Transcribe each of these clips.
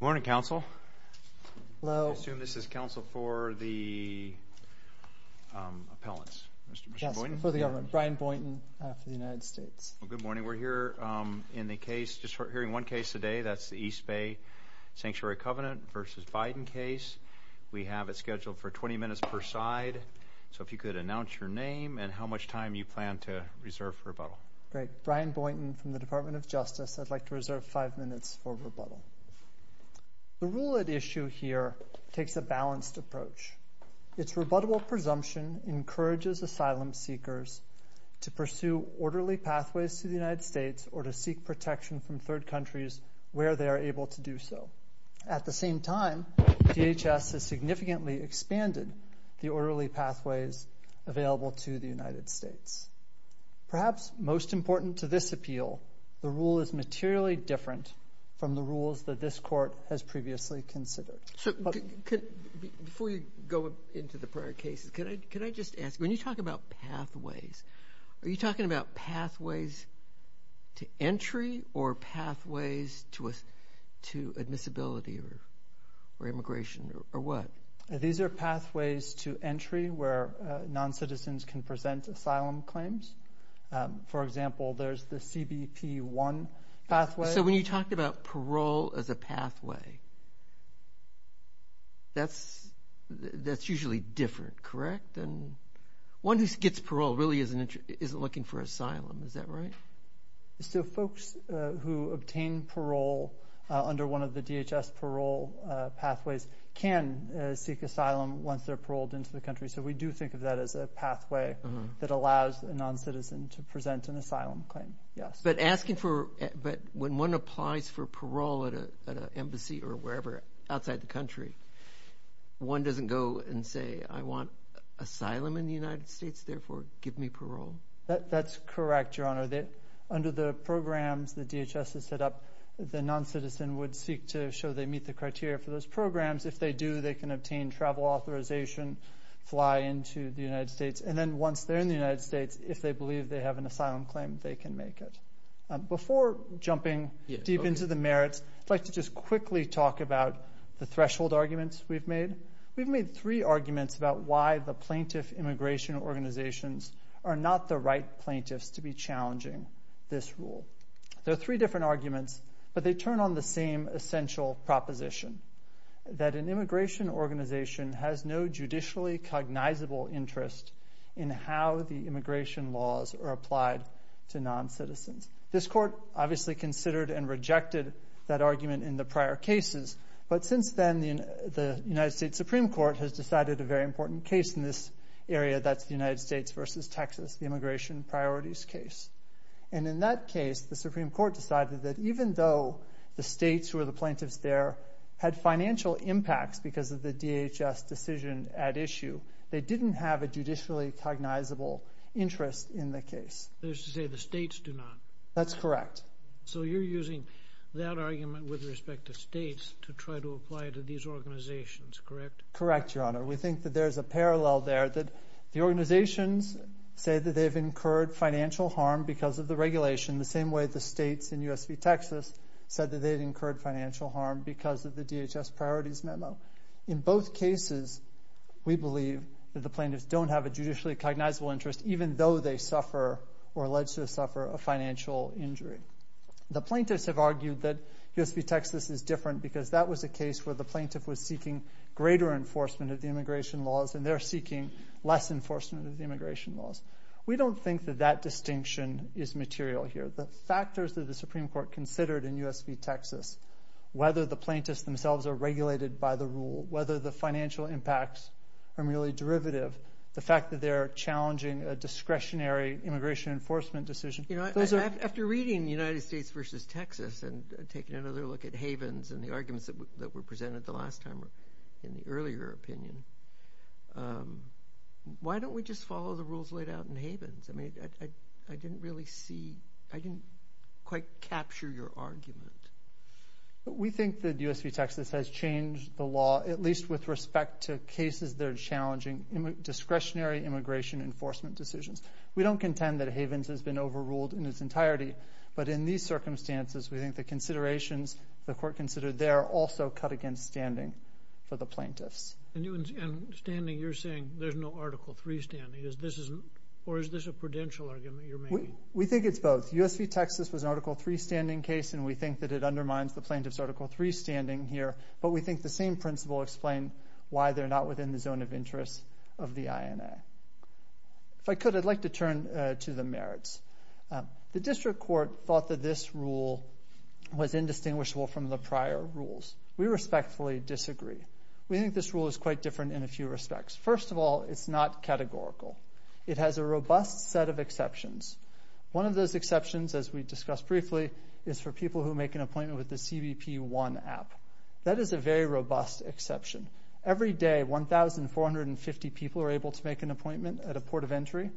Morning, Counsel. Hello. I assume this is counsel for the appellants. Yes, for the government. Brian Boynton for the United States. Good morning. We're here in the case, just hearing one case today, that's the East Bay Sanctuary Covenant v. Biden case. We have it scheduled for 20 minutes per side, so if you could announce your name and how much time you plan to reserve for rebuttal. Great. Brian Boynton from the Department of Justice. I'd like to reserve five minutes for rebuttal. The rule at issue here takes a balanced approach. Its rebuttable presumption encourages asylum seekers to pursue orderly pathways to the United States or to seek protection from third countries where they are able to do so. At the same time, DHS has significantly expanded the orderly pathways available to the United States. Perhaps most important to this appeal the rule is materially different from the rules that this court has previously considered. Before you go into the prior cases, can I just ask, when you talk about pathways, are you talking about pathways to entry or pathways to admissibility or immigration or what? These are pathways to entry where non-citizens can present asylum claims. For example, there's the CBP-1 pathway. When you talk about parole as a pathway, that's usually different, correct? One who gets parole really isn't looking for asylum, is that right? Folks who obtain parole under one of the DHS parole pathways can seek asylum once they're paroled into the country, so we do think of that as a pathway that allows a non-citizen to present an asylum claim, yes. But when one applies for parole at an embassy or wherever outside the country, one doesn't go and say, I want asylum in the United States, therefore give me parole? That's correct, Your Honor. Under the programs that DHS has set up, the non-citizen would seek to show they meet the criteria for those programs. If they do, they can obtain travel authorization, fly into the United States, and then once they're in the United States, if they believe they have an asylum claim, they can make it. Before jumping deep into the merits, I'd like to just quickly talk about the threshold arguments we've made. We've made three arguments about why the plaintiff immigration organizations are not the right plaintiffs to be challenging this rule. They're three different arguments, but they turn on the same essential proposition, that an immigration organization has no judicially cognizable interest in how the immigration laws are applied to non-citizens. This court obviously considered and rejected that argument in the prior cases, but since then the United States Supreme Court has decided a very important case in this area, that's the United States versus Texas, the immigration priorities case. And in that case, the Supreme Court, even though the states who are the plaintiffs there had financial impacts because of the DHS decision at issue, they didn't have a judicially cognizable interest in the case. There's to say the states do not. That's correct. So you're using that argument with respect to states to try to apply it to these organizations, correct? Correct, Your Honor. We think that there's a parallel there, that the organizations say that they've incurred financial harm because of the regulation, the same way the states in U.S. v. Texas said that they had incurred financial harm because of the DHS priorities memo. In both cases, we believe that the plaintiffs don't have a judicially cognizable interest even though they suffer or are alleged to suffer a financial injury. The plaintiffs have argued that U.S. v. Texas is different because that was a case where the plaintiff was seeking greater enforcement of the immigration laws and they're seeking less enforcement of the immigration laws. We don't think that that distinction is material here. The factors that the Supreme Court considered in U.S. v. Texas, whether the plaintiffs themselves are regulated by the rule, whether the financial impacts are merely derivative, the fact that they're challenging a discretionary immigration enforcement decision. After reading United States v. Texas and taking another look at Havens and the arguments that were presented the last time in the earlier opinion, why don't we just follow the rules laid out in Havens? I mean, I didn't really see, I didn't quite capture your argument. We think that U.S. v. Texas has changed the law at least with respect to cases that are challenging discretionary immigration enforcement decisions. We don't contend that Havens has been overruled in its entirety, but in these circumstances, we think the considerations the court considered there also cut against standing for the plaintiffs. And standing, you're saying there's no Article III standing, or is this a prudential argument you're making? We think it's both. U.S. v. Texas was an Article III standing case, and we think that it undermines the plaintiff's Article III standing here, but we think the same principle explained why they're not within the zone of interest of the INA. If I could, I'd like to turn to the merits. The district court thought that this rule was indistinguishable from the prior rules. We respectfully disagree. We think this rule is quite different in a few respects. First of all, it's not categorical. It has a robust set of exceptions. One of those exceptions, as we discussed briefly, is for people who make an appointment with the CBP-1 app. That is a very robust exception. Every day, 1,450 people are able to make an appointment at a port of entry.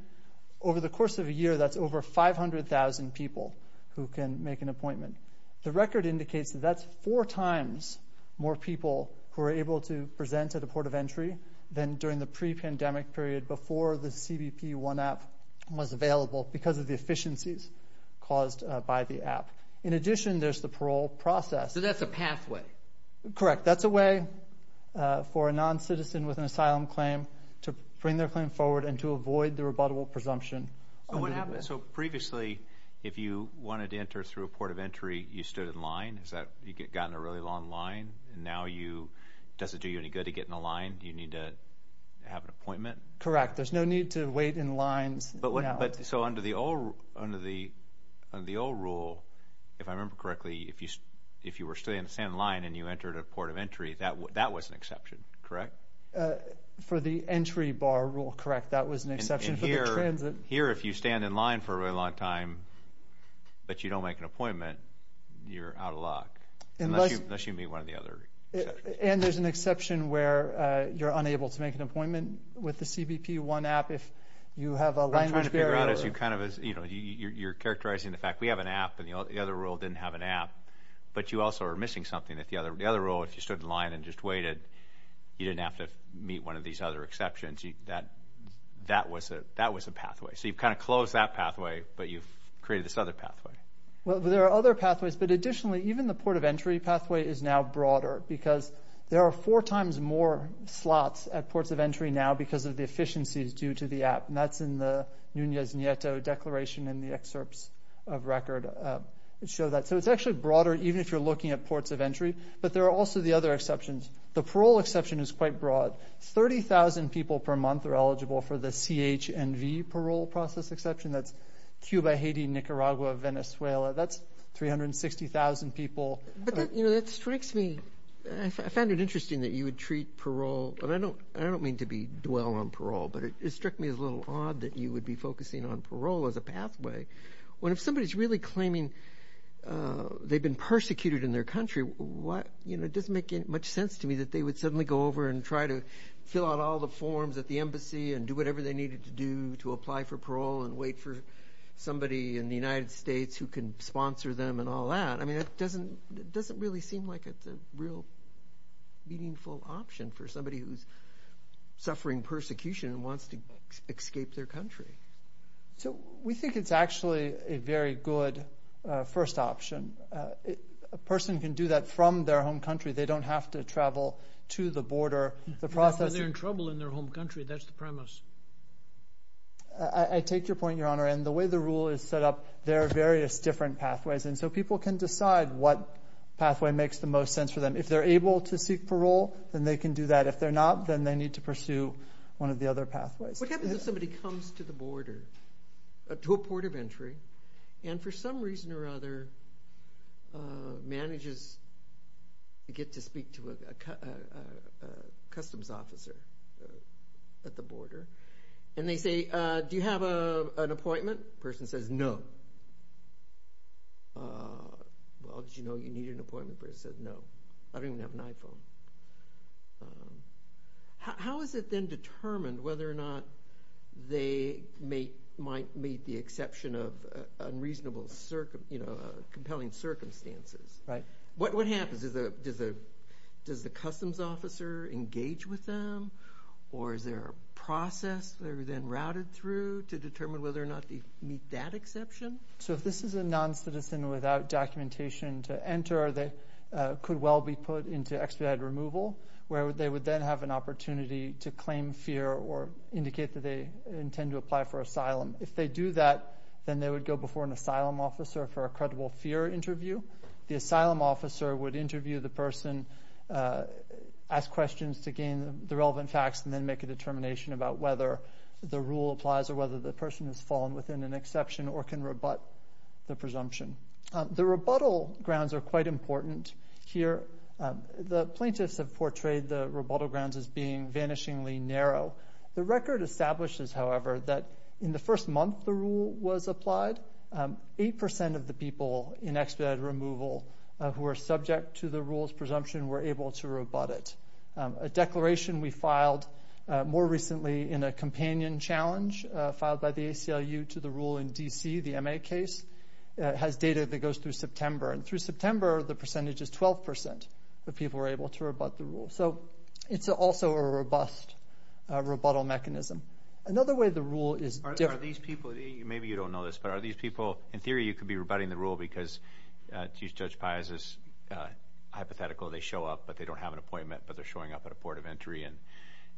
Over the course of a year, that's over 500,000 people who can make an appointment. The record indicates that that's four times more people who are able to present at a port of entry than during the pre-pandemic period before the CBP-1 app was available because of the efficiencies caused by the app. In addition, there's the parole process. So that's a pathway. Correct. That's a way for a noncitizen with an asylum claim to bring their claim forward and to avoid the rebuttable presumption. So previously, if you wanted to enter through a port of entry, you stood in line? Has that gotten a really long line? Now does it do you any good to get in a line? You need to have an appointment? Correct. There's no need to wait in lines. So under the old rule, if I remember correctly, if you were standing in line and you entered a port of entry, that was an exception, correct? For the entry bar rule, correct. That was an exception for the transit. Here, if you stand in line for a very long time, but you don't make an appointment, you're out of luck, unless you meet one of the other exceptions. And there's an exception where you're unable to make an appointment with the CBP-1 app if you have a language barrier? What I'm trying to figure out is you're characterizing the fact that we have an app and the other rule didn't have an app, but you also are missing something. The other rule, if you stood in line and just waited, you didn't have to meet one of these other exceptions. That was a pathway. So you've kind of closed that pathway, but you've created this other pathway. There are other pathways, but additionally, even the port of entry pathway is now broader because there are four times more slots at ports of entry now because of the efficiencies due to the app. And that's in the Nunez-Nieto Declaration in the excerpts of record that show that. So it's actually broader, even if you're looking at ports of entry. But there are also the other exceptions. The parole exception is quite broad. 30,000 people per month are eligible for the CHNV parole process exception. That's Cuba, Haiti, Nicaragua, Venezuela. That's 360,000 people. But that strikes me. I found it interesting that you would treat parole, and I don't mean to dwell on parole, but it struck me as a little odd that you would be focusing on parole as a pathway, when if somebody's really claiming they've been persecuted in their country, it doesn't make much sense to me that they would suddenly go over and try to fill out all the forms at the embassy and do whatever they needed to do to apply for parole and wait for somebody in the United States who can sponsor them and all that. I mean, it doesn't really seem like it's a real meaningful option for somebody who's suffering persecution and wants to escape their country. So we think it's actually a very good first option. A person can do that from their home country. They don't have to travel to the border. Not when they're in trouble in their home country. That's the premise. I take your point, Your Honor, and the way the rule is set up, there are various different pathways, and so people can decide what pathway makes the most sense for them. If they're able to seek parole, then they can do that. If they're not, then they need to pursue one of the other pathways. What happens if somebody comes to the border, to a port of entry, and for some reason or other, they get to speak to a customs officer at the border, and they say, do you have an appointment? The person says, no. Well, did you know you needed an appointment? The person says, no. I don't even have an iPhone. How is it then determined whether or not they might meet the exception of unreasonable, compelling circumstances? What happens? Does the customs officer engage with them, or is there a process they're then routed through to determine whether or not they meet that exception? So if this is a non-citizen without documentation to enter, they could well be put into expedited removal, where they would then have an opportunity to claim fear or indicate that they intend to apply for asylum. If they do that, then they would go before an asylum officer for a credible fear interview. The asylum officer would interview the person, ask questions to gain the relevant facts, and then make a determination about whether the rule applies or whether the person has fallen within an exception or can rebut the presumption. The rebuttal grounds are quite important here. The plaintiffs have portrayed the rebuttal grounds as being vanishingly narrow. The record establishes, however, that in the first month the rule was applied, 8% of the people in expedited removal who were subject to the rule's presumption were able to rebut it. A declaration we filed more recently in a companion challenge, filed by the ACLU to the rule in D.C., the M.A. case, has data that goes through September, and through September the percentage is 12% of people were able to rebut the rule. So it's also a robust rebuttal mechanism. Another way the rule is different... Are these people, maybe you don't know this, but are these people, in theory you could be rebutting the rule because Judge Piazza's hypothetical, they show up, but they don't have an appointment, but they're showing up at a port of entry,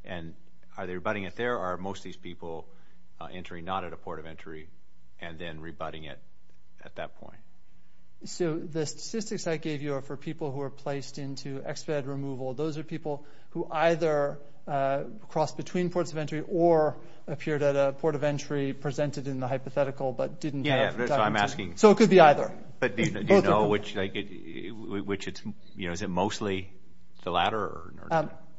and are they rebutting it there, or are most of these people entering not at a port of entry, and then rebutting it at that point? So the statistics I gave you are for people who are placed into expedited removal. Those are people who either crossed between ports of entry or appeared at a port of entry, presented in the hypothetical, but didn't have... Yeah, that's what I'm asking. So it could be either. But do you know which, is it mostly the latter, or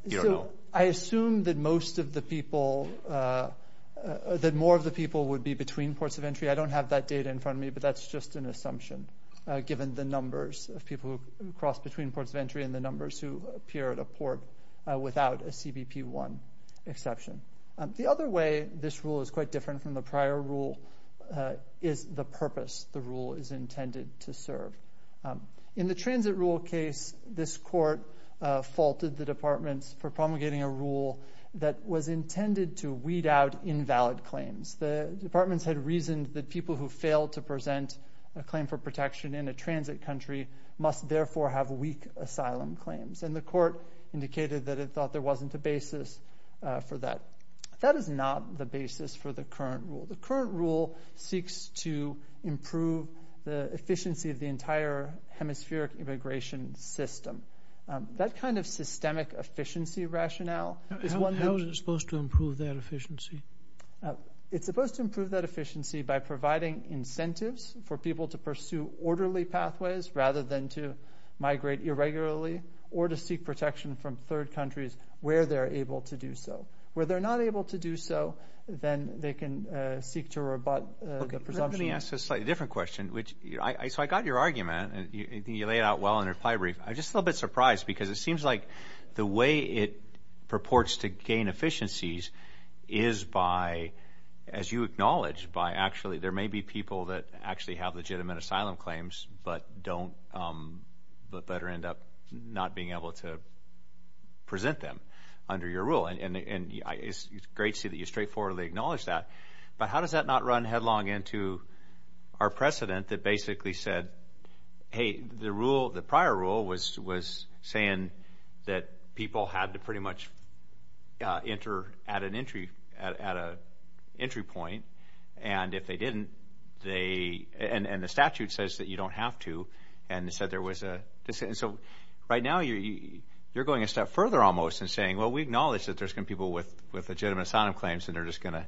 you don't know? I assume that most of the people, that more of the people would be between ports of entry. I don't have that data in front of me, but that's just an assumption, given the numbers of people who cross between ports of entry and the numbers who appear at a port without a CBP-1 exception. The other way this rule is quite different from the prior rule is the purpose the rule is intended to serve. In the transit rule case, this court faulted the departments for promulgating a rule that was intended to weed out invalid claims. The departments had reasoned that people who failed to present a claim for protection in a transit country must therefore have weak asylum claims, and the court indicated that they thought there wasn't a basis for that. That is not the basis for the current rule. The current rule seeks to improve the efficiency of the entire hemispheric immigration system. That kind of systemic efficiency rationale is one... How is it supposed to improve that efficiency? It's supposed to improve that efficiency by providing incentives for people to pursue countries where they're able to do so. Where they're not able to do so, then they can seek to rebut the presumption... Let me ask a slightly different question. I got your argument, and you laid it out well in your plybrief. I'm just a little bit surprised because it seems like the way it purports to gain efficiencies is by, as you acknowledge, by actually... There may be people that actually have legitimate asylum claims, but better end up not being able to present them under your rule. It's great to see that you straightforwardly acknowledge that, but how does that not run headlong into our precedent that basically said, hey, the prior rule was saying that people had to pretty much enter at an entry point, and if they didn't, they... The statute says that you don't have to, and it said there was a... Right now, you're going a step further almost in saying, well, we acknowledge that there's some people with legitimate asylum claims, and they're just going to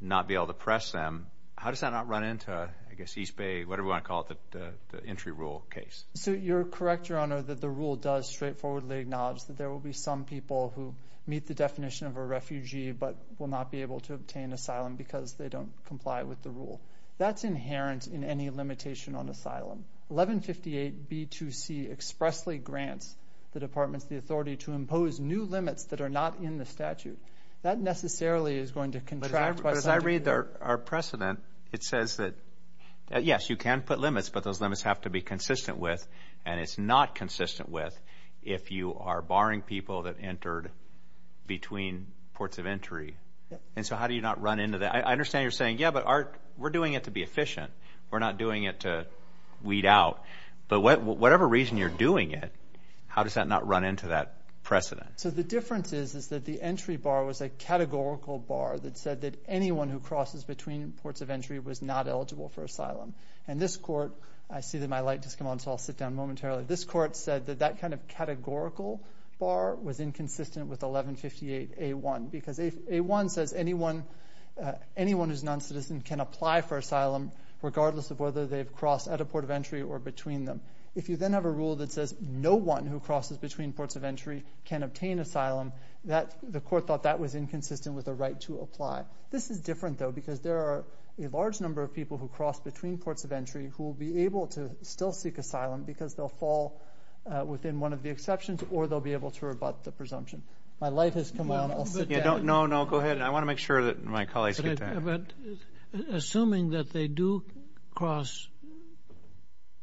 not be able to press them. How does that not run into, I guess, East Bay, whatever you want to call it, the entry rule case? You're correct, Your Honor, that the rule does straightforwardly acknowledge that there will be some people who meet the definition of a refugee, but will not be able to obtain asylum because they don't comply with the rule. That's inherent in any limitation on asylum. 1158B2C expressly grants the departments the authority to impose new limits that are not in the statute. That necessarily is going to contract... But as I read our precedent, it says that, yes, you can put limits, but those limits have to be consistent with, and it's not consistent with, if you are barring people that entered between ports of entry. And so how do you not run into that? I understand you're saying, yeah, but we're doing it to be efficient. We're not doing it to weed out. But whatever reason you're doing it, how does that not run into that precedent? So the difference is, is that the entry bar was a categorical bar that said that anyone who crosses between ports of entry was not eligible for asylum. And this court, I see that my light just came on, so I'll sit down momentarily. This court said that that kind of categorical bar was inconsistent with 1158A1, because A1 says anyone who's non-citizen can apply for asylum regardless of whether they've crossed at a port of entry or between them. If you then have a rule that says no one who crosses between ports of entry can obtain asylum, the court thought that was inconsistent with the right to apply. This is different, though, because there are a large number of people who cross between ports of entry who will be able to still seek asylum because they'll fall within one of the exceptions, or they'll be able to rebut the presumption. My light has come on. No, no, go ahead. I want to make sure that my colleagues get that. Assuming that they do cross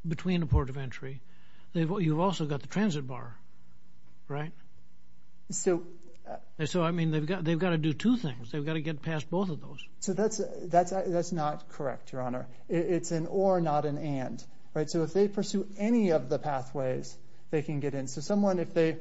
between a port of entry, you've also got the transit bar, right? So, I mean, they've got to do two things. They've got to get past both of those. So that's not correct, Your Honor. It's an or, not an and. Right? So if they pursue any of the pathways, they can get in. So someone, if they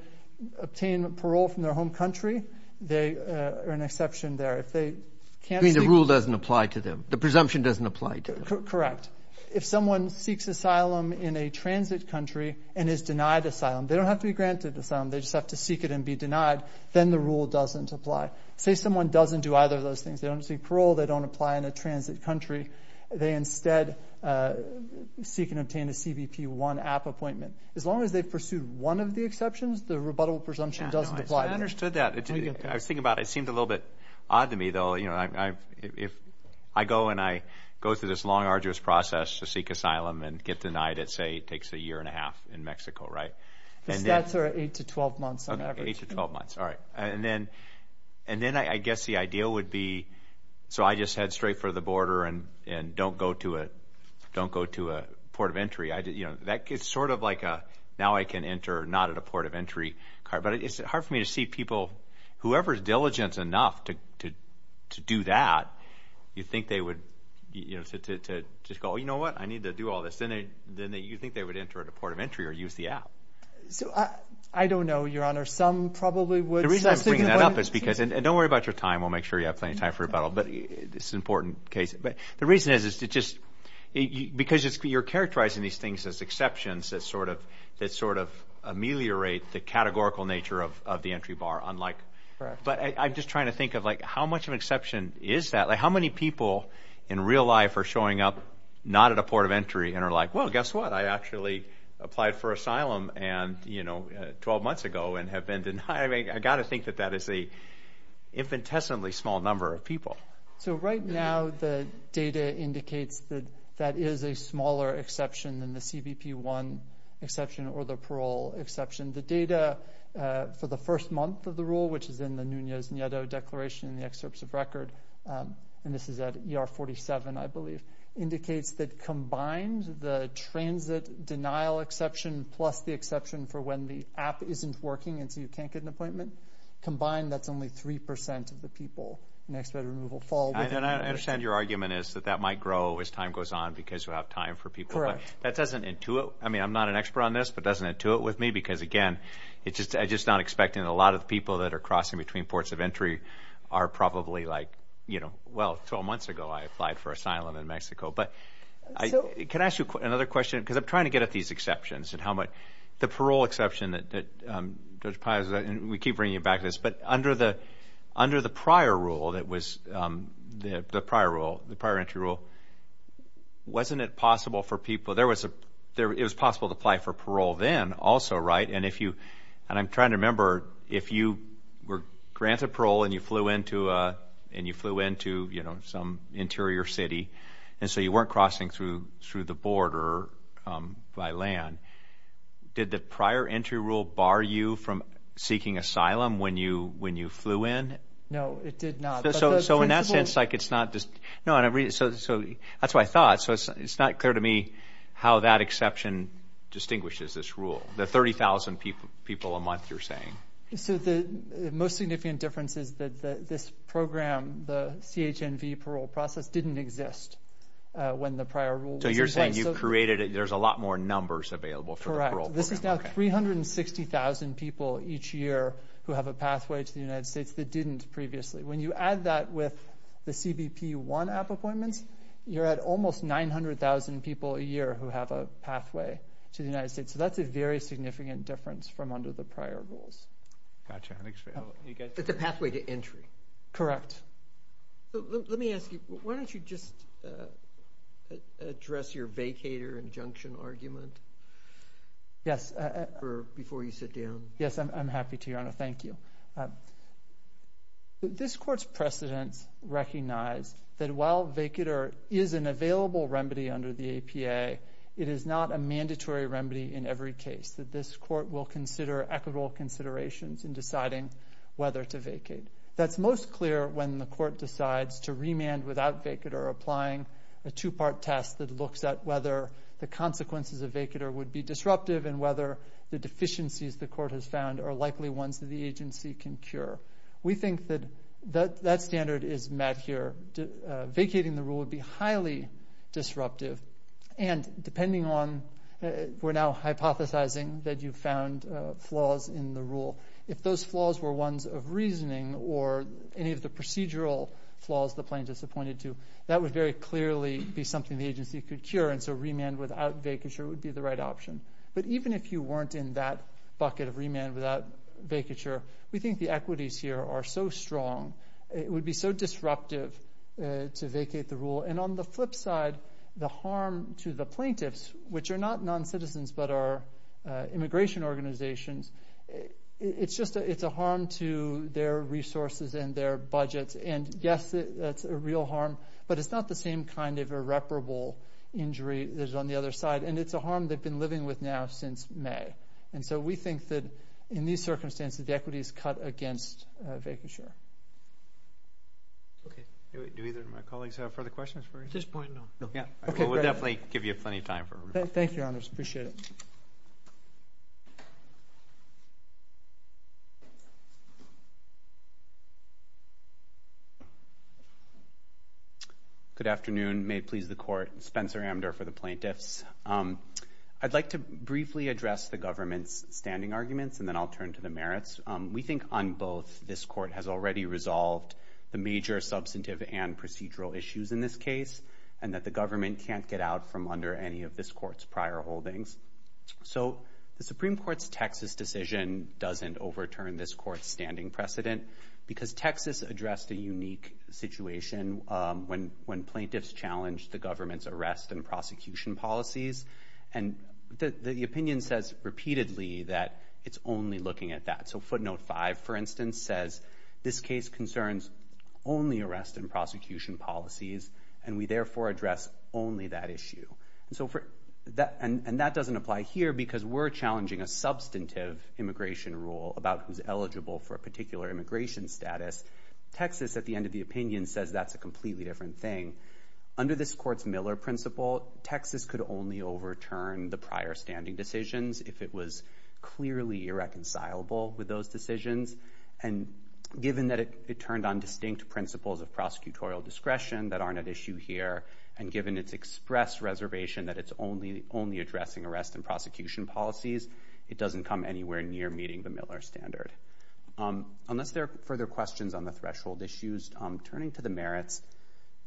obtain parole from their home country, they are an exception there. You mean the rule doesn't apply to them? The presumption doesn't apply to them? Correct. If someone seeks asylum in a transit country and is denied asylum, they don't have to be granted asylum. They just have to seek it and be denied. Then the rule doesn't apply. Say someone doesn't do either of those things. They don't seek parole. They don't apply in a transit country. They instead seek and obtain a CBP-1 app appointment. As long as they've pursued one of the exceptions, the rebuttable presumption doesn't apply to them. I understood that. I was thinking about it. It seemed a little bit odd to me, though. I go and I go through this long, arduous process to seek asylum and get denied. Let's say it takes a year and a half in Mexico, right? The stats are eight to 12 months on average. Eight to 12 months. All right. And then I guess the idea would be, so I just head straight for the border and don't go to a port of entry. It's sort of like a, now I can enter, not at a port of entry. But it's hard for me to see people, whoever's diligent enough to do that, you think they would just go, you know what? I need to do all this. Then you think they would enter at a port of entry or use the app. So I don't know, Your Honor. Some probably would. The reason I'm bringing that up is because, and don't worry about your time. We'll make sure you have plenty of time for rebuttal. But it's an important case. The reason is because you're characterizing these things as exceptions that sort of ameliorate the categorical nature of the entry bar. But I'm just trying to think of how much of an exception is that? How many people in real life are showing up not at a port of entry and are like, well, guess what? I actually applied for asylum 12 months ago and have been denied. I've got to think that that is an infinitesimally small number of people. So right now, the data indicates that that is a smaller exception than the CBP-1 exception or the parole exception. The data for the first month of the rule, which is in the Nunez-Nieto Declaration in the excerpts of record, and this is at ER 47, I believe, indicates that combined the transit denial exception plus the exception for when the app isn't working and so you And I understand your argument is that that might grow as time goes on because you have time for people. Correct. But that doesn't intuit. I mean, I'm not an expert on this, but it doesn't intuit with me because, again, I'm just not expecting a lot of people that are crossing between ports of entry are probably like, you know, well, 12 months ago I applied for asylum in Mexico. But can I ask you another question? Because I'm trying to get at these exceptions and how much the parole exception that Judge the prior rule, the prior entry rule, wasn't it possible for people, there was a, it was possible to apply for parole then also, right? And if you, and I'm trying to remember, if you were granted parole and you flew into some interior city and so you weren't crossing through the border by land, did the prior entry rule bar you from seeking asylum when you flew in? No, it did not. So in that sense, like, it's not just, no, so that's what I thought. So it's not clear to me how that exception distinguishes this rule, the 30,000 people a month you're saying. So the most significant difference is that this program, the CHNV parole process, didn't exist when the prior rule was in place. So you're saying you've created, there's a lot more numbers available for the parole program. Correct. This is now 360,000 people each year who have a pathway to the United States that didn't exist previously. When you add that with the CBP-1 app appointments, you're at almost 900,000 people a year who have a pathway to the United States. So that's a very significant difference from under the prior rules. Gotcha. I think so. It's a pathway to entry. Correct. Let me ask you, why don't you just address your vacator injunction argument? Yes. Before you sit down. Yes, I'm happy to, Your Honor. Thank you. Your Honor, this Court's precedents recognize that while vacator is an available remedy under the APA, it is not a mandatory remedy in every case. That this Court will consider equitable considerations in deciding whether to vacate. That's most clear when the Court decides to remand without vacator, applying a two-part test that looks at whether the consequences of vacator would be disruptive and whether the deficiencies the Court has found are likely ones that the agency can cure. We think that that standard is met here. Vacating the rule would be highly disruptive. And depending on, we're now hypothesizing that you found flaws in the rule. If those flaws were ones of reasoning or any of the procedural flaws the plaintiff's appointed to, that would very clearly be something the agency could cure. And so remand without vacator would be the right option. But even if you weren't in that bucket of remand without vacature, we think the equities here are so strong, it would be so disruptive to vacate the rule. And on the flip side, the harm to the plaintiffs, which are not non-citizens but are immigration organizations, it's a harm to their resources and their budgets. And yes, it's a real harm, but it's not the same kind of irreparable injury that is on the other side. And it's a harm they've been living with now since May. And so we think that in these circumstances, the equities cut against vacature. Okay. Do either of my colleagues have further questions? At this point, no. No. Okay. We'll definitely give you plenty of time. Appreciate it. Good afternoon. May it please the Court. I'm Spencer Amder for the Plaintiffs. I'd like to briefly address the government's standing arguments, and then I'll turn to the merits. We think on both, this Court has already resolved the major substantive and procedural issues in this case, and that the government can't get out from under any of this Court's prior holdings. So the Supreme Court's Texas decision doesn't overturn this Court's standing precedent, because Texas addressed a unique situation when plaintiffs challenged the government's arrest and prosecution policies. And the opinion says repeatedly that it's only looking at that. So Footnote 5, for instance, says, this case concerns only arrest and prosecution policies, and we therefore address only that issue. And that doesn't apply here, because we're challenging a substantive immigration rule about who's eligible for a particular immigration status. Texas, at the end of the opinion, says that's a completely different thing. Under this Court's Miller principle, Texas could only overturn the prior standing decisions if it was clearly irreconcilable with those decisions. And given that it turned on distinct principles of prosecutorial discretion that aren't at issue here, and given its express reservation that it's only addressing arrest and prosecution policies, it doesn't come anywhere near meeting the Miller standard. Unless there are further questions on the threshold issues, turning to the merits,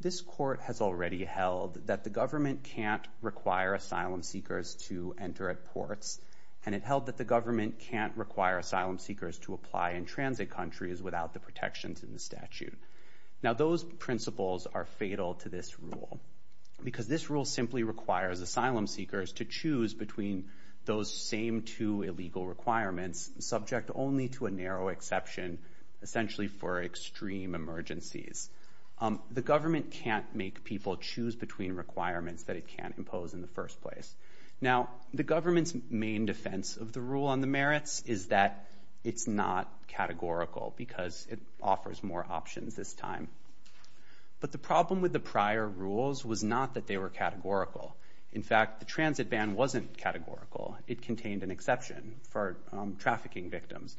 this Court has already held that the government can't require asylum seekers to enter at ports, and it held that the government can't require asylum seekers to apply in transit countries without the protections in the statute. Now, those principles are fatal to this rule, because this rule simply requires asylum seekers to choose between those same two illegal requirements, subject only to a narrow exception, essentially for extreme emergencies. The government can't make people choose between requirements that it can't impose in the first place. Now, the government's main defense of the rule on the merits is that it's not categorical, because it offers more options this time. But the problem with the prior rules was not that they were categorical. In fact, the transit ban wasn't categorical. It contained an exception for trafficking victims.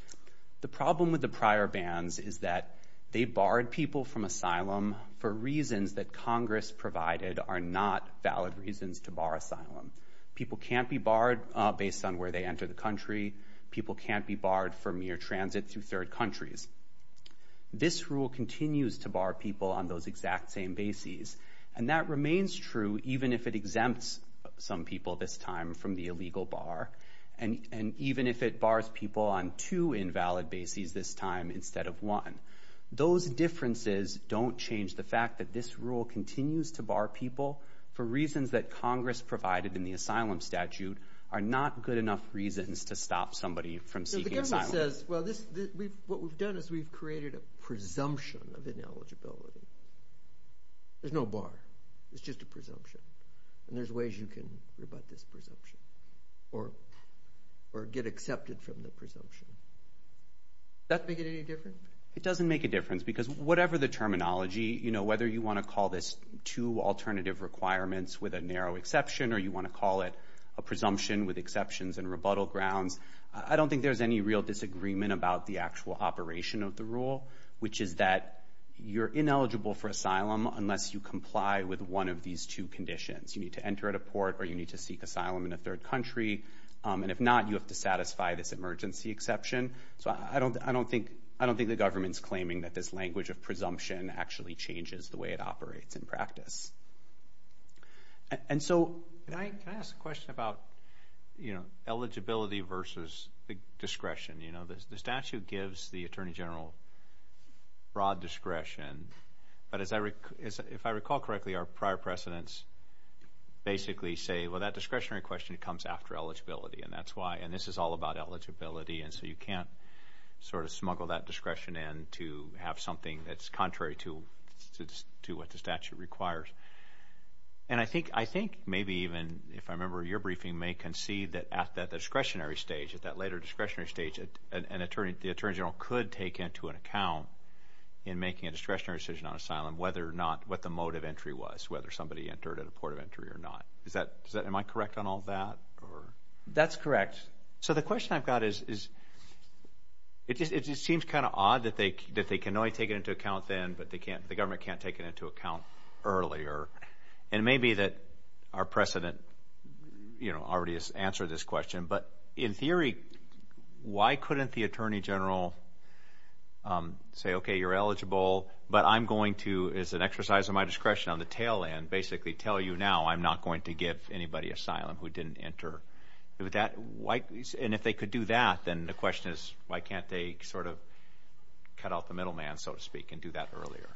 The problem with the prior bans is that they barred people from asylum for reasons that Congress provided are not valid reasons to bar asylum. People can't be barred based on where they enter the country. People can't be barred for mere transit through third countries. This rule continues to bar people on those exact same bases, and that remains true even if it exempts some people this time from the illegal bar, and even if it bars people on two invalid bases this time instead of one. Those differences don't change the fact that this rule continues to bar people for reasons that Congress provided in the asylum statute are not good enough reasons to stop somebody from seeking asylum. So the government says, well, what we've done is we've created a presumption of ineligibility. There's no bar. It's just a presumption. And there's ways you can rebut this presumption or get accepted from the presumption. Does that make it any different? It doesn't make a difference because whatever the terminology, whether you want to call this two alternative requirements with a narrow exception or you want to call it a presumption with exceptions and rebuttal grounds, I don't think there's any real disagreement about the actual operation of the rule, which is that you're ineligible for asylum unless you comply with one of these two conditions. You need to enter at a port or you need to seek asylum in a third country. And if not, you have to satisfy this emergency exception. So I don't think the government's claiming that this language of presumption actually changes the way it operates in practice. And so can I ask a question about eligibility versus discretion? You know, the statute gives the Attorney General broad discretion. But if I recall correctly, our prior precedents basically say, well, that discretionary question comes after eligibility. And that's why. And this is all about eligibility. And so you can't sort of smuggle that discretion in to have something that's contrary to what the statute requires. And I think maybe even, if I remember your briefing, may concede that at that discretionary stage, at that later discretionary stage, the Attorney General could take into an account in making a discretionary decision on asylum whether or not, what the mode of entry was, whether somebody entered at a port of entry or not. Am I correct on all that? That's correct. So the question I've got is, it just seems kind of odd that they can only take it into account then, but the government can't take it into account earlier. And maybe that our precedent, you know, already has answered this question. But in theory, why couldn't the Attorney General say, okay, you're eligible, but I'm going to, as an exercise of my discretion on the tail end, basically tell you now, I'm not going to give anybody asylum who didn't enter. And if they could do that, then the question is, why can't they sort of cut out the middle man, so to speak, and do that earlier?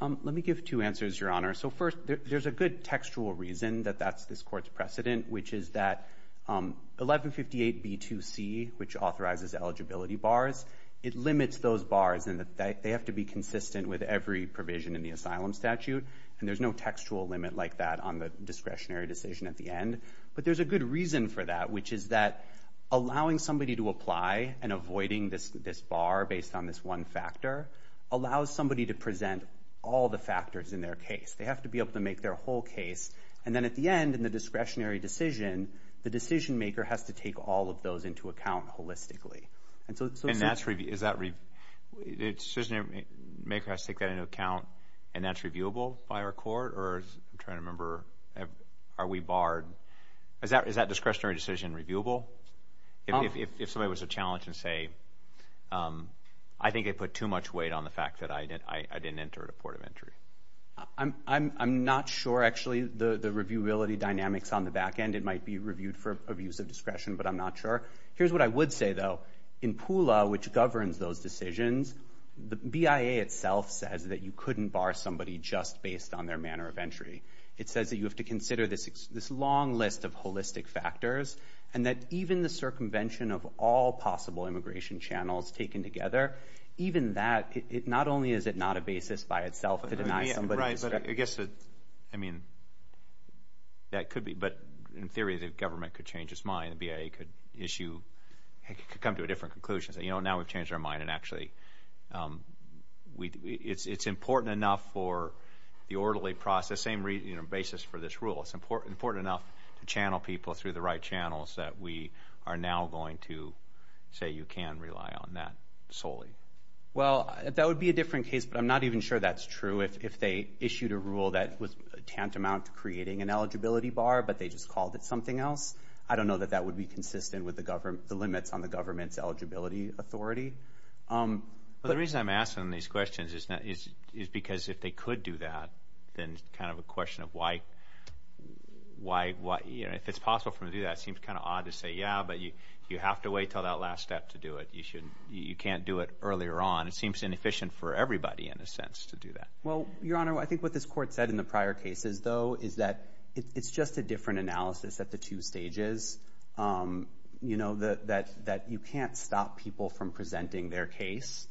Let me give two answers, Your Honor. So first, there's a good textual reason that that's this Court's precedent, which is that 1158B2C, which authorizes eligibility bars, it limits those bars in that they have to be consistent with every provision in the asylum statute. And there's no textual limit like that on the discretionary decision at the end. But there's a good reason for that, which is that allowing somebody to apply and avoiding this bar based on this one factor allows somebody to present all the factors in their case. They have to be able to make their whole case. And then at the end, in the discretionary decision, the decision maker has to take all of those into account holistically. And so... And that's... Is that... The decision maker has to take that into account, and that's reviewable by our Court? Or as I'm trying to remember, are we barred? Is that discretionary decision reviewable? If somebody was to challenge and say, I think I put too much weight on the fact that I didn't enter at a port of entry. I'm not sure, actually, the reviewability dynamics on the back end. It might be reviewed for abuse of discretion, but I'm not sure. Here's what I would say, though. In PULA, which governs those decisions, the BIA itself says that you couldn't bar somebody just based on their manner of entry. It says that you have to consider this long list of holistic factors, and that even the circumvention of all possible immigration channels taken together, even that, not only is it not a basis by itself to deny somebody discretion... Right. But I guess that... I mean, that could be. But in theory, the government could change its mind. The BIA could issue... It could come to a different conclusion. Say, you know, now we've changed our mind, and actually... It's important enough for the orderly process, same basis for this rule. It's important enough to channel people through the right channels that we are now going to say, you can rely on that solely. Well, that would be a different case, but I'm not even sure that's true. If they issued a rule that was tantamount to creating an eligibility bar, but they just called it something else, I don't know that that would be consistent with the limits on the government's eligibility authority. Well, the reason I'm asking these questions is because if they could do that, then it's kind of a question of why... You know, if it's possible for them to do that, it seems kind of odd to say, yeah, but you have to wait until that last step to do it. You can't do it earlier on. It seems inefficient for everybody, in a sense, to do that. Well, Your Honor, I think what this Court said in the prior cases, though, is that it's just a different analysis at the two stages. You know, that you can't stop people from presenting their case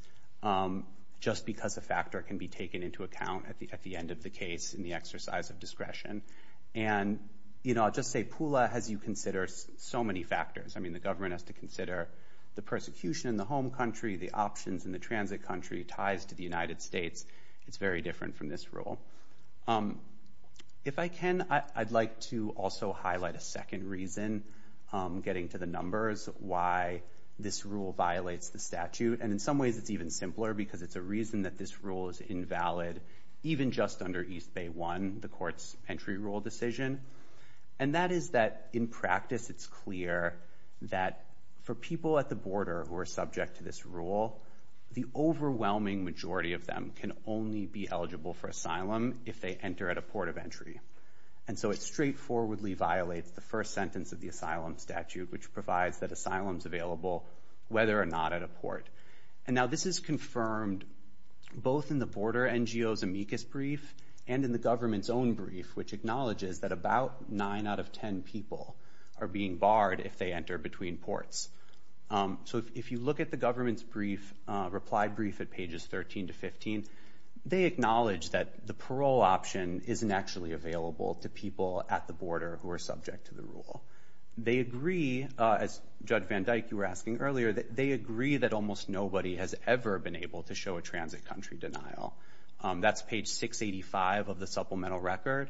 just because a factor can be taken into account at the end of the case in the exercise of discretion. And, you know, I'll just say PULA has you consider so many factors. I mean, the government has to consider the persecution in the home country, the options in the transit country, ties to the United States. It's very different from this rule. If I can, I'd like to also highlight a second reason, getting to the numbers, why this rule violates the statute. And in some ways, it's even simpler, because it's a reason that this rule is invalid, even just under East Bay 1, the Court's entry rule decision. And that is that, in practice, it's clear that for people at the border who are subject to this rule, the overwhelming majority of them can only be eligible for asylum if they enter at a port of entry. And so it straightforwardly violates the first sentence of the asylum statute, which provides that asylum's available whether or not at a port. And now this is confirmed both in the border NGO's amicus brief and in the government's own brief, which acknowledges that about 9 out of 10 people are being barred if they enter between ports. So if you look at the government's reply brief at pages 13 to 15, they acknowledge that the parole option isn't actually available to people at the border who are subject to the rule. They agree, as Judge Van Dyke, you were asking earlier, they agree that almost nobody has ever been able to show a transit country denial. That's page 685 of the supplemental record.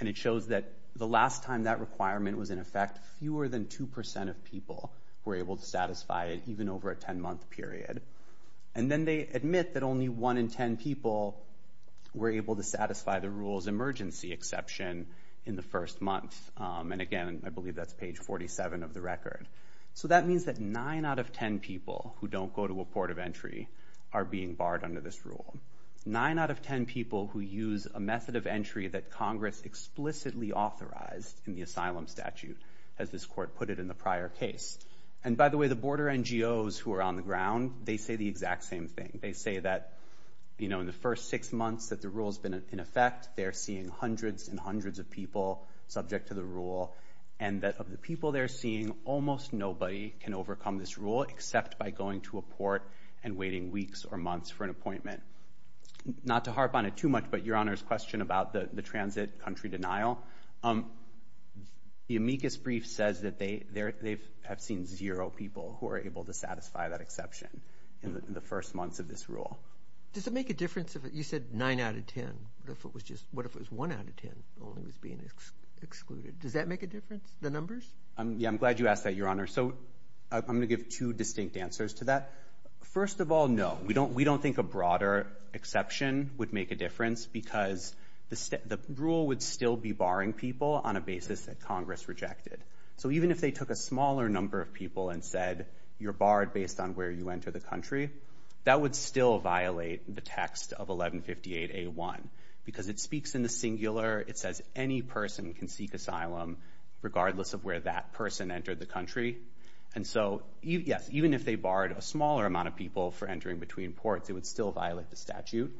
And it shows that the last time that requirement was in effect, fewer than 2% of people were able to satisfy it, even over a 10-month period. And then they admit that only 1 in 10 people were able to satisfy the rule's emergency exception in the first month. And again, I believe that's page 47 of the record. So that means that 9 out of 10 people who don't go to a port of entry are being barred under this rule. 9 out of 10 people who use a method of entry that Congress explicitly authorized in the asylum statute, as this court put it in the prior case. And by the way, the border NGOs who are on the ground, they say the exact same thing. They say that in the first six months that the rule's been in effect, they're seeing hundreds and hundreds of people subject to the rule, and that of the people they're seeing, almost nobody can overcome this rule except by going to a port and waiting weeks or months for an appointment. Not to harp on it too much, but Your Honor's question about the transit country denial, the amicus brief says that they have seen zero people who are able to satisfy that exception in the first months of this rule. Does it make a difference if, you said 9 out of 10, what if it was just, what if it was 1 out of 10 only was being excluded? Does that make a difference, the numbers? Yeah, I'm glad you asked that, Your Honor. So I'm going to give two distinct answers to that. First of all, no. We don't think a broader exception would make a difference, because the rule would still be barring people on a basis that Congress rejected. So even if they took a smaller number of people and said, you're barred based on where you enter the country, that would still violate the text of 1158A1. Because it speaks in the singular, it says any person can seek asylum regardless of where that person entered the country. And so, yes, even if they barred a smaller amount of people for entering between ports, it would still violate the statute.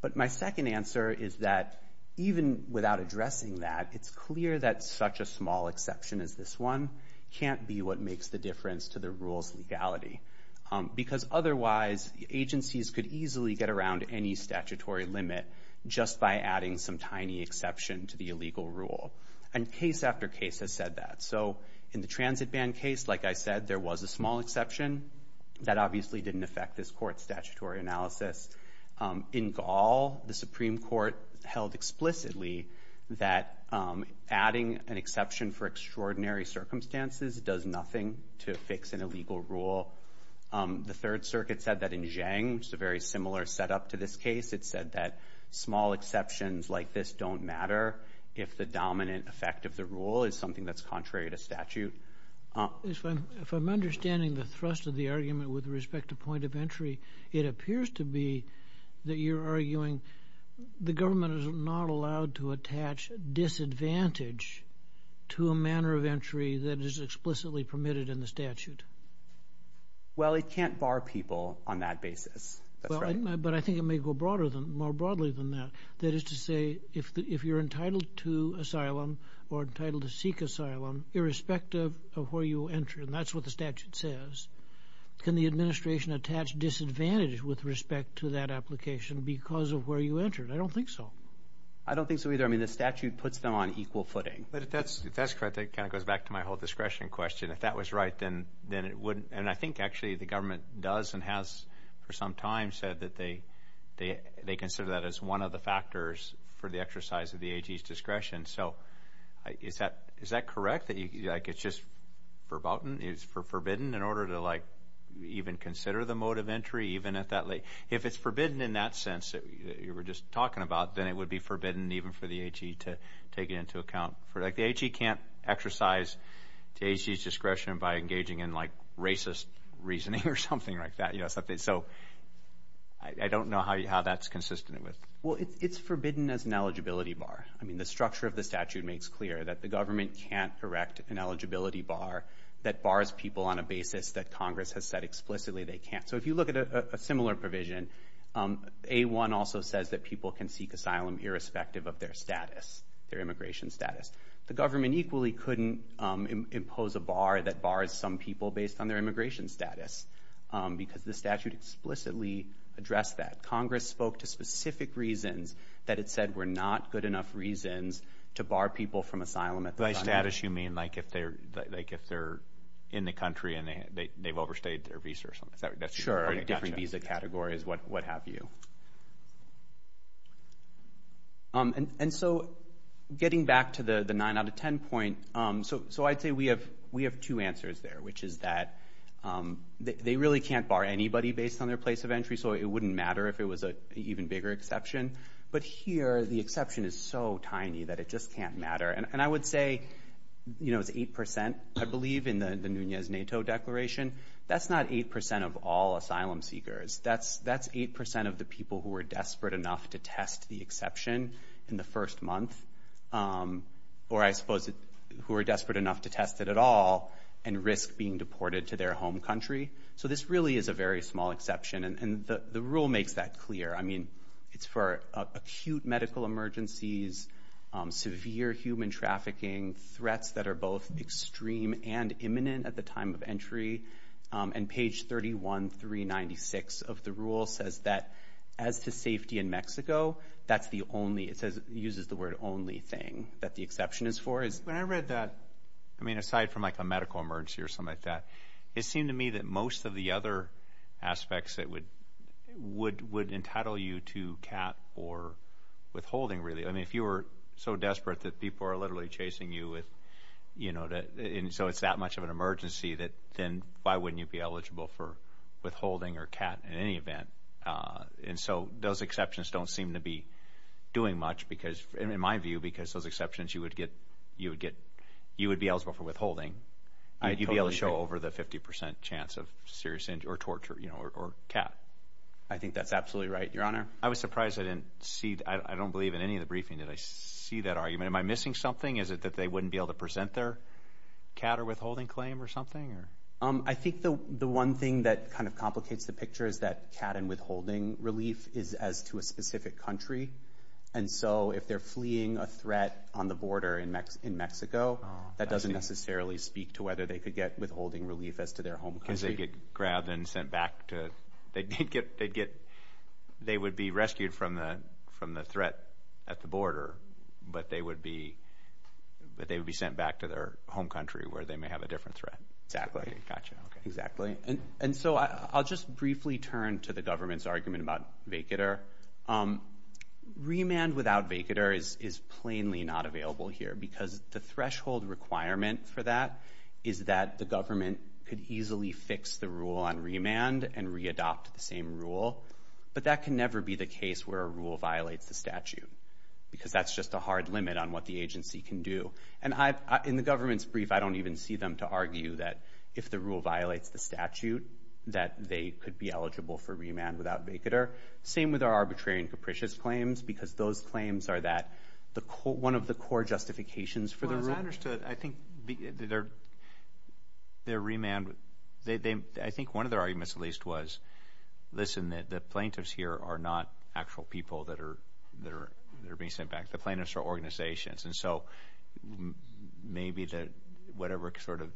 But my second answer is that even without addressing that, it's clear that such a small exception as this one can't be what makes the difference to the rule's legality. Because otherwise, agencies could easily get around any statutory limit just by adding some tiny exception to the illegal rule. And case after case has said that. So in the transit ban case, like I said, there was a small exception. That obviously didn't affect this court's statutory analysis. In Gaul, the Supreme Court held explicitly that adding an exception for extraordinary circumstances does nothing to fix an illegal rule. The Third Circuit said that in Jiang, which is a very similar setup to this case, it said that small exceptions like this don't matter if the dominant effect of the rule is something that's contrary to statute. If I'm understanding the thrust of the argument with respect to point of entry, it appears to be that you're arguing the government is not allowed to attach disadvantage to a manner of entry that is explicitly permitted in the statute. Well, it can't bar people on that basis. But I think it may go more broadly than that. That is to say, if you're entitled to asylum or entitled to seek asylum, irrespective of where you enter, and that's what the statute says, can the administration attach disadvantage with respect to that application because of where you entered? I don't think so. I don't think so either. I mean, the statute puts them on equal footing. But if that's correct, that kind of goes back to my whole discretion question. If that was right, then it wouldn't. And I think actually the government does and has for some time said that they consider that as one of the factors for the exercise of the AG's discretion. So, is that correct? Like, it's just verboten? It's forbidden in order to, like, even consider the mode of entry even at that late? If it's forbidden in that sense that you were just talking about, then it would be forbidden even for the AG to take it into account. Like, the AG can't exercise the AG's discretion by engaging in, like, racist reasoning or something like that. So, I don't know how that's consistent with. Well, it's forbidden as an eligibility bar. I mean, the structure of the statute makes clear that the government can't correct an eligibility bar that bars people on a basis that Congress has said explicitly they can't. So, if you look at a similar provision, A-1 also says that people can seek asylum irrespective of their status, their immigration status. The government equally couldn't impose a bar that bars some people based on their status, and the statute explicitly addressed that. Congress spoke to specific reasons that it said were not good enough reasons to bar people from asylum at the time. By status, you mean, like, if they're in the country and they've overstayed their visa or something? Sure, different visa categories, what have you. And so, getting back to the 9 out of 10 point, so I'd say we have two answers there, which is that they really can't bar anybody based on their place of entry, so it wouldn't matter if it was an even bigger exception. But here, the exception is so tiny that it just can't matter. And I would say, you know, it's 8%, I believe, in the Nunez-Nato declaration. That's not 8% of all asylum seekers. That's 8% of the people who were desperate enough to test the exception in the first month, or I suppose who were desperate enough to test it at all and risk being deported to their home country. So, this really is a very small exception, and the rule makes that clear. I mean, it's for acute medical emergencies, severe human trafficking, threats that are both extreme and imminent at the time of entry. And page 31396 of the rule says that, as to safety in Mexico, that's the only, it uses the word only thing that the exception is for. When I read that, I mean, aside from like a medical emergency or something like that, it seemed to me that most of the other aspects that would entitle you to CAT or withholding, really. I mean, if you were so desperate that people are literally chasing you with, you know, and so it's that much of an emergency, then why wouldn't you be eligible for withholding or CAT in any event? And so, those exceptions don't seem to be doing much because, in my view, because those exceptions, you would get, you would be eligible for withholding. You'd be able to show over the 50 percent chance of serious injury or torture, you know, or CAT. I think that's absolutely right, Your Honor. I was surprised I didn't see, I don't believe in any of the briefing that I see that argument. Am I missing something? Is it that they wouldn't be able to present their CAT or withholding claim or something, or? I think the one thing that kind of complicates the picture is that CAT and withholding relief is as to a specific country. And so, if they're fleeing a threat on the border in Mexico, that doesn't necessarily speak to whether they could get withholding relief as to their home country. Because they'd get grabbed and sent back to, they'd get, they would be rescued from the threat at the border, but they would be sent back to their home country where they may have a different threat. Exactly. Gotcha. Exactly. And so, I'll just briefly turn to the government's argument about vacater. Remand without vacater is plainly not available here because the threshold requirement for that is that the government could easily fix the rule on remand and re-adopt the same rule. But that can never be the case where a rule violates the statute. Because that's just a hard limit on what the agency can do. And in the government's brief, I don't even see them to argue that if the rule violates the statute, that they could be eligible for remand without vacater. Same with our arbitrarian capricious claims, because those claims are that, one of the core justifications for the rule. Well, as I understood, I think their remand, I think one of their arguments at least was, listen, the plaintiffs here are not actual people that are being sent back. The plaintiffs are organizations. And so, maybe that whatever sort of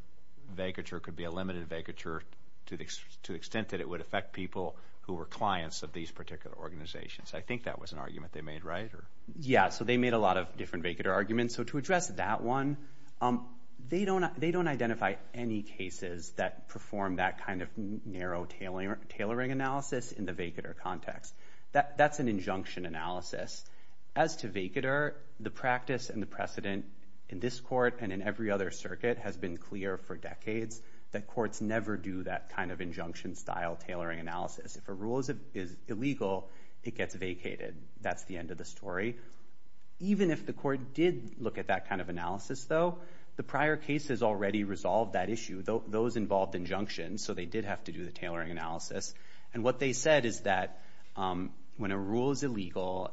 vacature could be a limited vacature to the extent that it would affect people who were clients of these particular organizations. I think that was an argument they made, right? Yeah. So, they made a lot of different vacater arguments. So, to address that one, they don't identify any cases that perform that kind of narrow tailoring analysis in the vacater context. That's an injunction analysis. As to vacater, the practice and the precedent in this court and in every other circuit has been clear for decades, that courts never do that kind of injunction style tailoring analysis. If a rule is illegal, it gets vacated. That's the end of the story. Even if the court did look at that kind of analysis though, the prior cases already resolved that issue. Those involved injunction, so they did have to do the tailoring analysis. And what they said is that when a rule is illegal,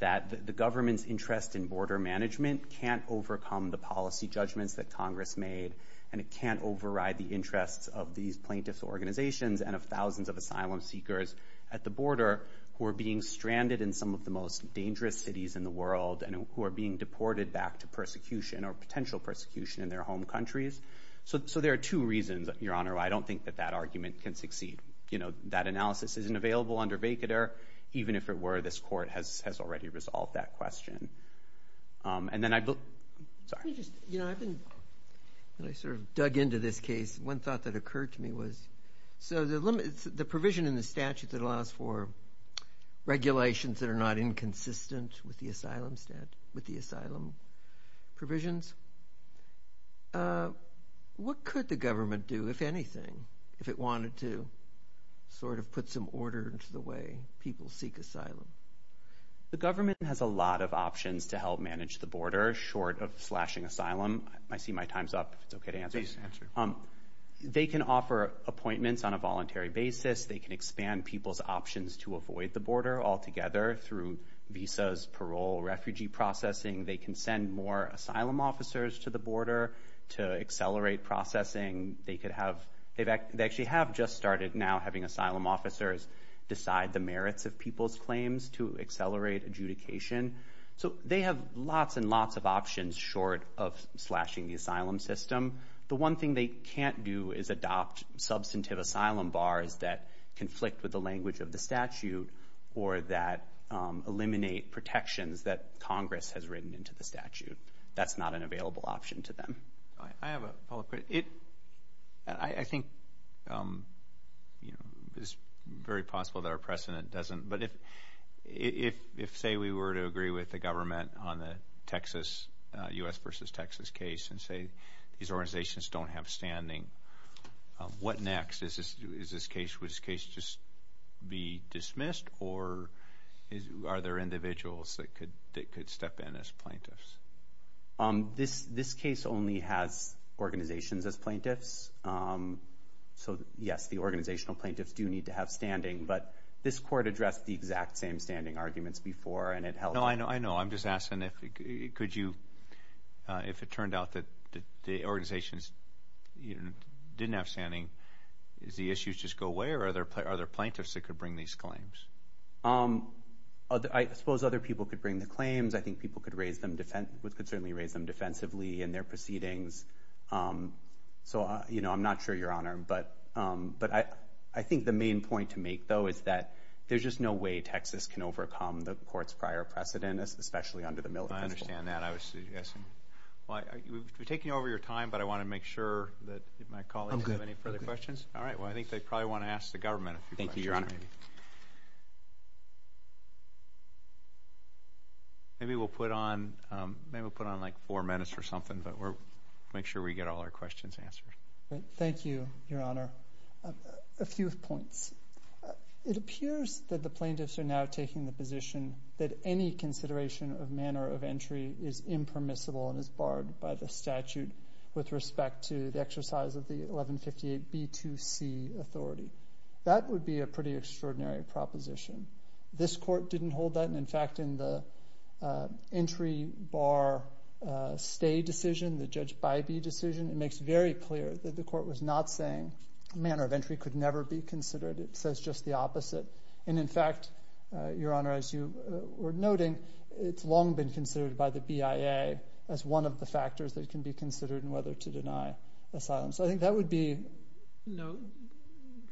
that the government's interest in border management can't overcome the policy judgments that Congress made, and it can't override the interests of these plaintiffs' organizations and of thousands of asylum seekers at the border who are being stranded in some of the most dangerous cities in the world and who are being deported back to persecution or potential persecution in their home countries. So, there are two reasons, Your Honor. I don't think that that argument can succeed. You know, that analysis isn't available under vacater. Even if it were, this court has already resolved that question. And then I... Sorry. Let me just... You know, I've been... I sort of dug into this case. One thought that occurred to me was... So, the provision in the statute that allows for regulations that are not inconsistent with the asylum provisions, what could the government do? If anything, if it wanted to sort of put some order into the way people seek asylum? The government has a lot of options to help manage the border short of slashing asylum. I see my time's up. If it's okay to answer. Please answer. They can offer appointments on a voluntary basis. They can expand people's options to avoid the border altogether through visas, parole, refugee processing. They can send more asylum officers to the border to accelerate processing. They could have... They actually have just started now having asylum officers decide the merits of people's claims to accelerate adjudication. So they have lots and lots of options short of slashing the asylum system. The one thing they can't do is adopt substantive asylum bars that conflict with the language of the statute or that eliminate protections that Congress has written into the statute. That's not an available option to them. I have a follow-up question. I think it's very possible that our precedent doesn't... But if, say, we were to agree with the government on the Texas... U.S. versus Texas case and say these organizations don't have standing, what next? Is this case... Would this case just be dismissed or are there individuals that could step in as plaintiffs? This case only has organizations as plaintiffs. So, yes, the organizational plaintiffs do need to have standing. But this court addressed the exact same standing arguments before and it held... No, I know. I know. I'm just asking if you... Could you... If it turned out that the organizations didn't have standing, is the issues just go away or are there plaintiffs that could bring these claims? I suppose other people could bring the claims. I think people could certainly raise them defensively in their proceedings. So, you know, I'm not sure, Your Honor. But I think the main point to make, though, is that there's just no way Texas can overcome the court's prior precedent, especially under the military principle. I understand that. I was just asking... We're taking over your time, but I want to make sure that my colleagues have any further questions. All right. Well, I think they probably want to ask the government a few questions. Thank you, Your Honor. All right. Maybe we'll put on like four minutes or something. But we'll make sure we get all our questions answered. Thank you, Your Honor. A few points. It appears that the plaintiffs are now taking the position that any consideration of manner of entry is impermissible and is barred by the statute with respect to the exercise of the 1158B2C authority. That would be a pretty extraordinary proposition. This court didn't hold that. And, in fact, in the entry bar stay decision, the Judge Bybee decision, it makes very clear that the court was not saying manner of entry could never be considered. It says just the opposite. And, in fact, Your Honor, as you were noting, it's long been considered by the BIA as one of the factors that can be considered in whether to deny asylum. So I think that would be... No.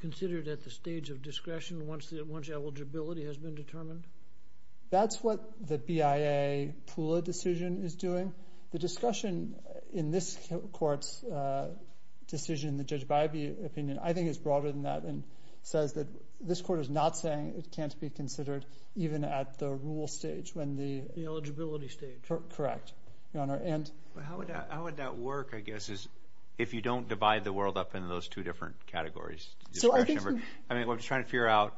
Considered at the stage of discretion once eligibility has been determined? That's what the BIA Pula decision is doing. The discussion in this court's decision, the Judge Bybee opinion, I think is broader than that and says that this court is not saying it can't be considered even at the rule stage when the... The eligibility stage. Correct, Your Honor. And... How would that work, I guess, if you don't divide the world up into those two different categories? So I think... I mean, I'm just trying to figure out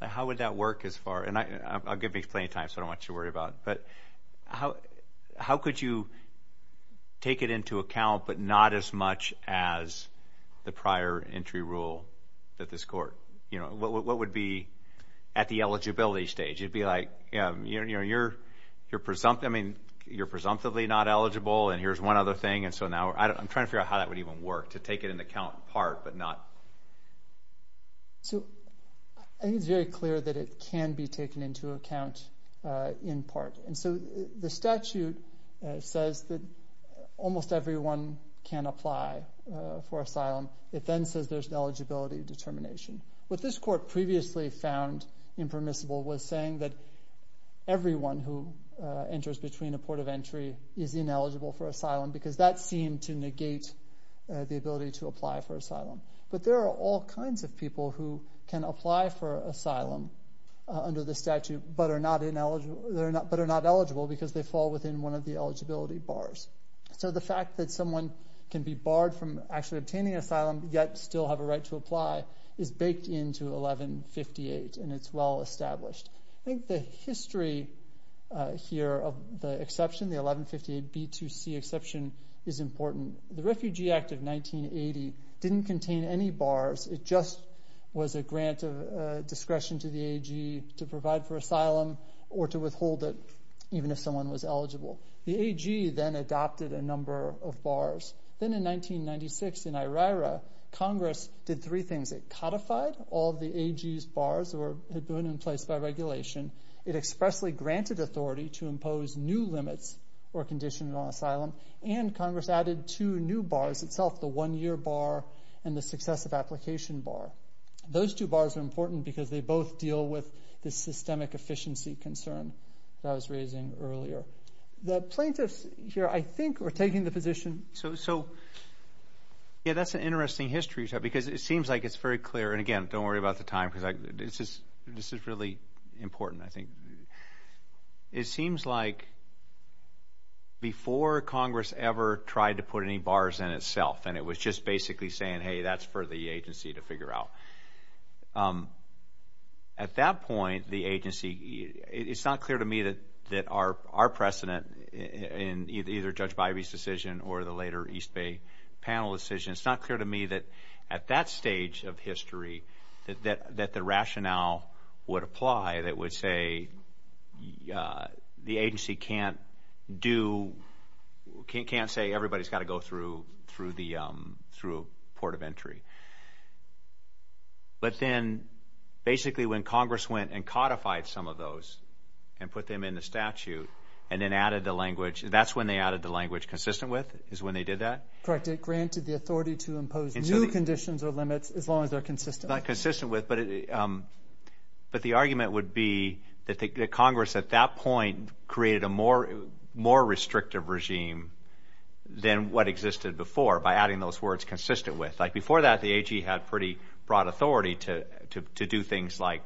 how would that work as far... And I'll give me plenty of time, so I don't want you to worry about it. But how could you take it into account but not as much as the prior entry rule that this court... You know, what would be at the eligibility stage? You'd be like, you know, you're presumptively not eligible and here's one other thing and so now... I'm trying to figure out how that would even work to take it into account in part but not... So I think it's very clear that it can be taken into account in part. And so the statute says that almost everyone can apply for asylum. It then says there's an eligibility determination. What this court previously found impermissible was saying that everyone who enters between a port of entry is ineligible for asylum because that seemed to negate the ability to apply for asylum. But there are all kinds of people who can apply for asylum under the statute but are not eligible because they fall within one of the eligibility bars. So the fact that someone can be barred from actually obtaining asylum yet still have a break into 1158 and it's well established. I think the history here of the exception, the 1158B2C exception, is important. The Refugee Act of 1980 didn't contain any bars. It just was a grant of discretion to the AG to provide for asylum or to withhold it even if someone was eligible. The AG then adopted a number of bars. Then in 1996 in IRIRA, Congress did three things. It codified all of the AG's bars that had been in place by regulation. It expressly granted authority to impose new limits or condition on asylum. And Congress added two new bars itself, the one-year bar and the successive application bar. Those two bars are important because they both deal with the systemic efficiency concern that I was raising earlier. The plaintiffs here, I think, are taking the position. So, yeah, that's an interesting history because it seems like it's very clear. And again, don't worry about the time because this is really important, I think. It seems like before Congress ever tried to put any bars in itself and it was just basically saying, hey, that's for the agency to figure out. At that point, the agency, it's not clear to me that our precedent in either Judge Bybee's or the later East Bay panel decision, it's not clear to me that at that stage of history that the rationale would apply that would say the agency can't do, can't say everybody's got to go through the port of entry. But then basically when Congress went and codified some of those and put them in the statute and then added the language, that's when they added the language consistent with, is when they did that? Correct. It granted the authority to impose new conditions or limits as long as they're consistent. Not consistent with, but the argument would be that Congress at that point created a more restrictive regime than what existed before by adding those words consistent with. Like before that, the AG had pretty broad authority to do things like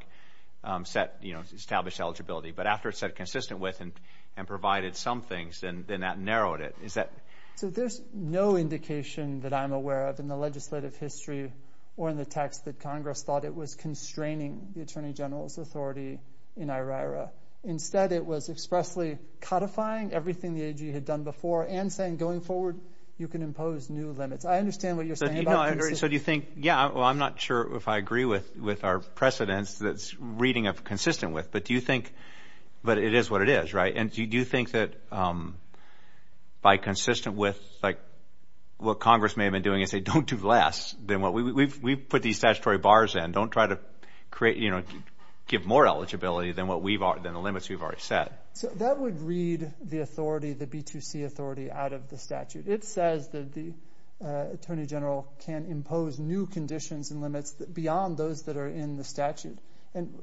establish eligibility. But after it said consistent with and provided some things, then that narrowed it. So there's no indication that I'm aware of in the legislative history or in the text that Congress thought it was constraining the Attorney General's authority in IRIRA. Instead, it was expressly codifying everything the AG had done before and saying going forward you can impose new limits. I understand what you're saying about consistency. So do you think, yeah, well, I'm not sure if I agree with our precedents that's reading of consistent with, but do you think, but it is what it is, right? And do you think that by consistent with, like what Congress may have been doing is say don't do less than what we've put these statutory bars in. Don't try to create, you know, give more eligibility than the limits we've already set. So that would read the authority, the B2C authority out of the statute. It says that the Attorney General can impose new conditions and limits beyond those that are in the statute. And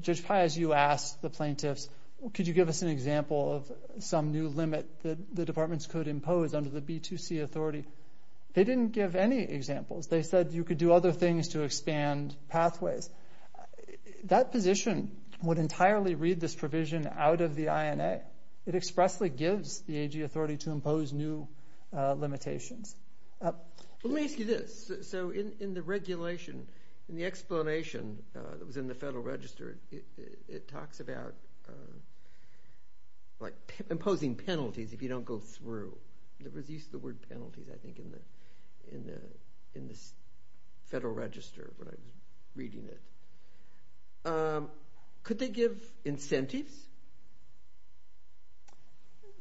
Judge Pais, you asked the plaintiffs could you give us an example of some new limit that the departments could impose under the B2C authority. They didn't give any examples. They said you could do other things to expand pathways. That position would entirely read this provision out of the INA. It expressly gives the AG authority to impose new limitations. Let me ask you this. So in the regulation, in the explanation that was in the Federal Register, it talks about like imposing penalties if you don't go through. There was use of the word penalties I think in the Federal Register when I was reading it. Could they give incentives?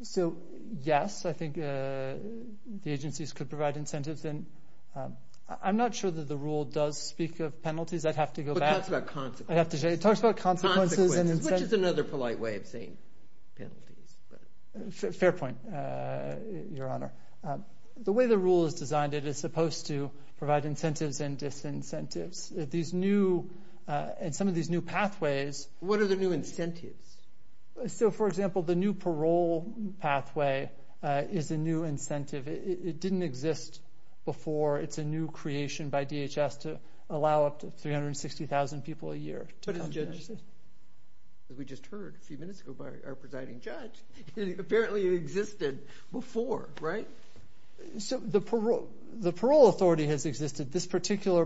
So yes, I think the agencies could provide incentives. And I'm not sure that the rule does speak of penalties. I'd have to go back. But it talks about consequences. It talks about consequences. Consequences, which is another polite way of saying penalties. Fair point, Your Honor. The way the rule is designed, it is supposed to provide incentives and disincentives. These new, and some of these new pathways. What are the new incentives? So for example, the new parole pathway is a new incentive. It didn't exist before. It's a new creation by DHS to allow up to 360,000 people a year. But as a judge, as we just heard a few minutes ago by our presiding judge, it apparently existed before, right? So the parole authority has existed. This particular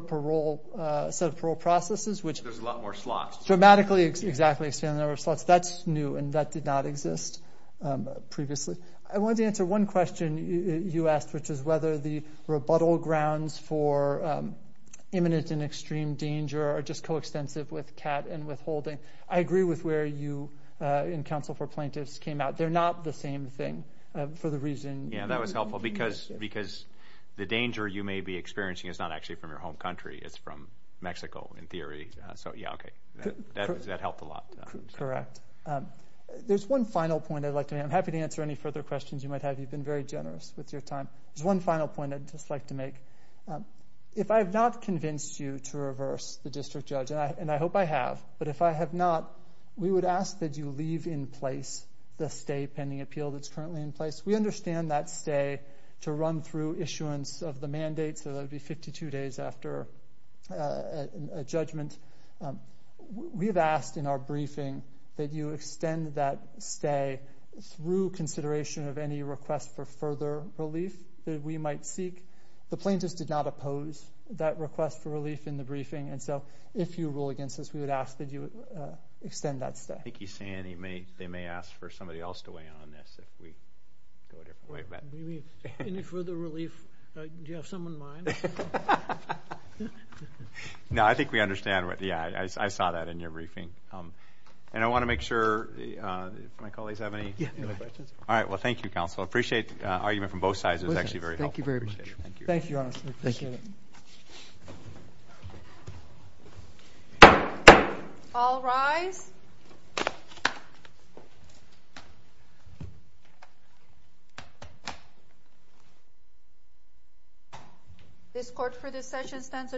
set of parole processes, which... There's a lot more slots. Dramatically, exactly, a certain number of slots. That's new, and that did not exist previously. I wanted to answer one question you asked, which is whether the rebuttal grounds for imminent and extreme danger are just coextensive with CAT and withholding. I agree with where you, in counsel for plaintiffs, came out. They're not the same thing, for the reason... Yeah, that was helpful, because the danger you may be experiencing is not actually from your home country. It's from Mexico, in theory. So, yeah, okay. That helped a lot. Correct. There's one final point I'd like to make. I'm happy to answer any further questions you might have. You've been very generous with your time. There's one final point I'd just like to make. If I have not convinced you to reverse the district judge, and I hope I have, but if I have not, we would ask that you leave in place the stay pending appeal that's currently in place. We understand that stay to run through issuance of the mandate, so that would be 52 days after a judgment. We have asked in our briefing that you extend that stay through consideration of any request for further relief that we might seek. The plaintiffs did not oppose that request for relief in the briefing, and so if you rule against us, we would ask that you extend that stay. I think he's saying they may ask for somebody else to weigh in on this, if we go a different way. Any further relief? Do you have some in mind? No, I think we understand. I saw that in your briefing. And I want to make sure my colleagues have any questions. All right, well, thank you, counsel. I appreciate the argument from both sides. It was actually very helpful. Thank you very much. Thank you, honestly. All rise. This court for this session stands adjourned.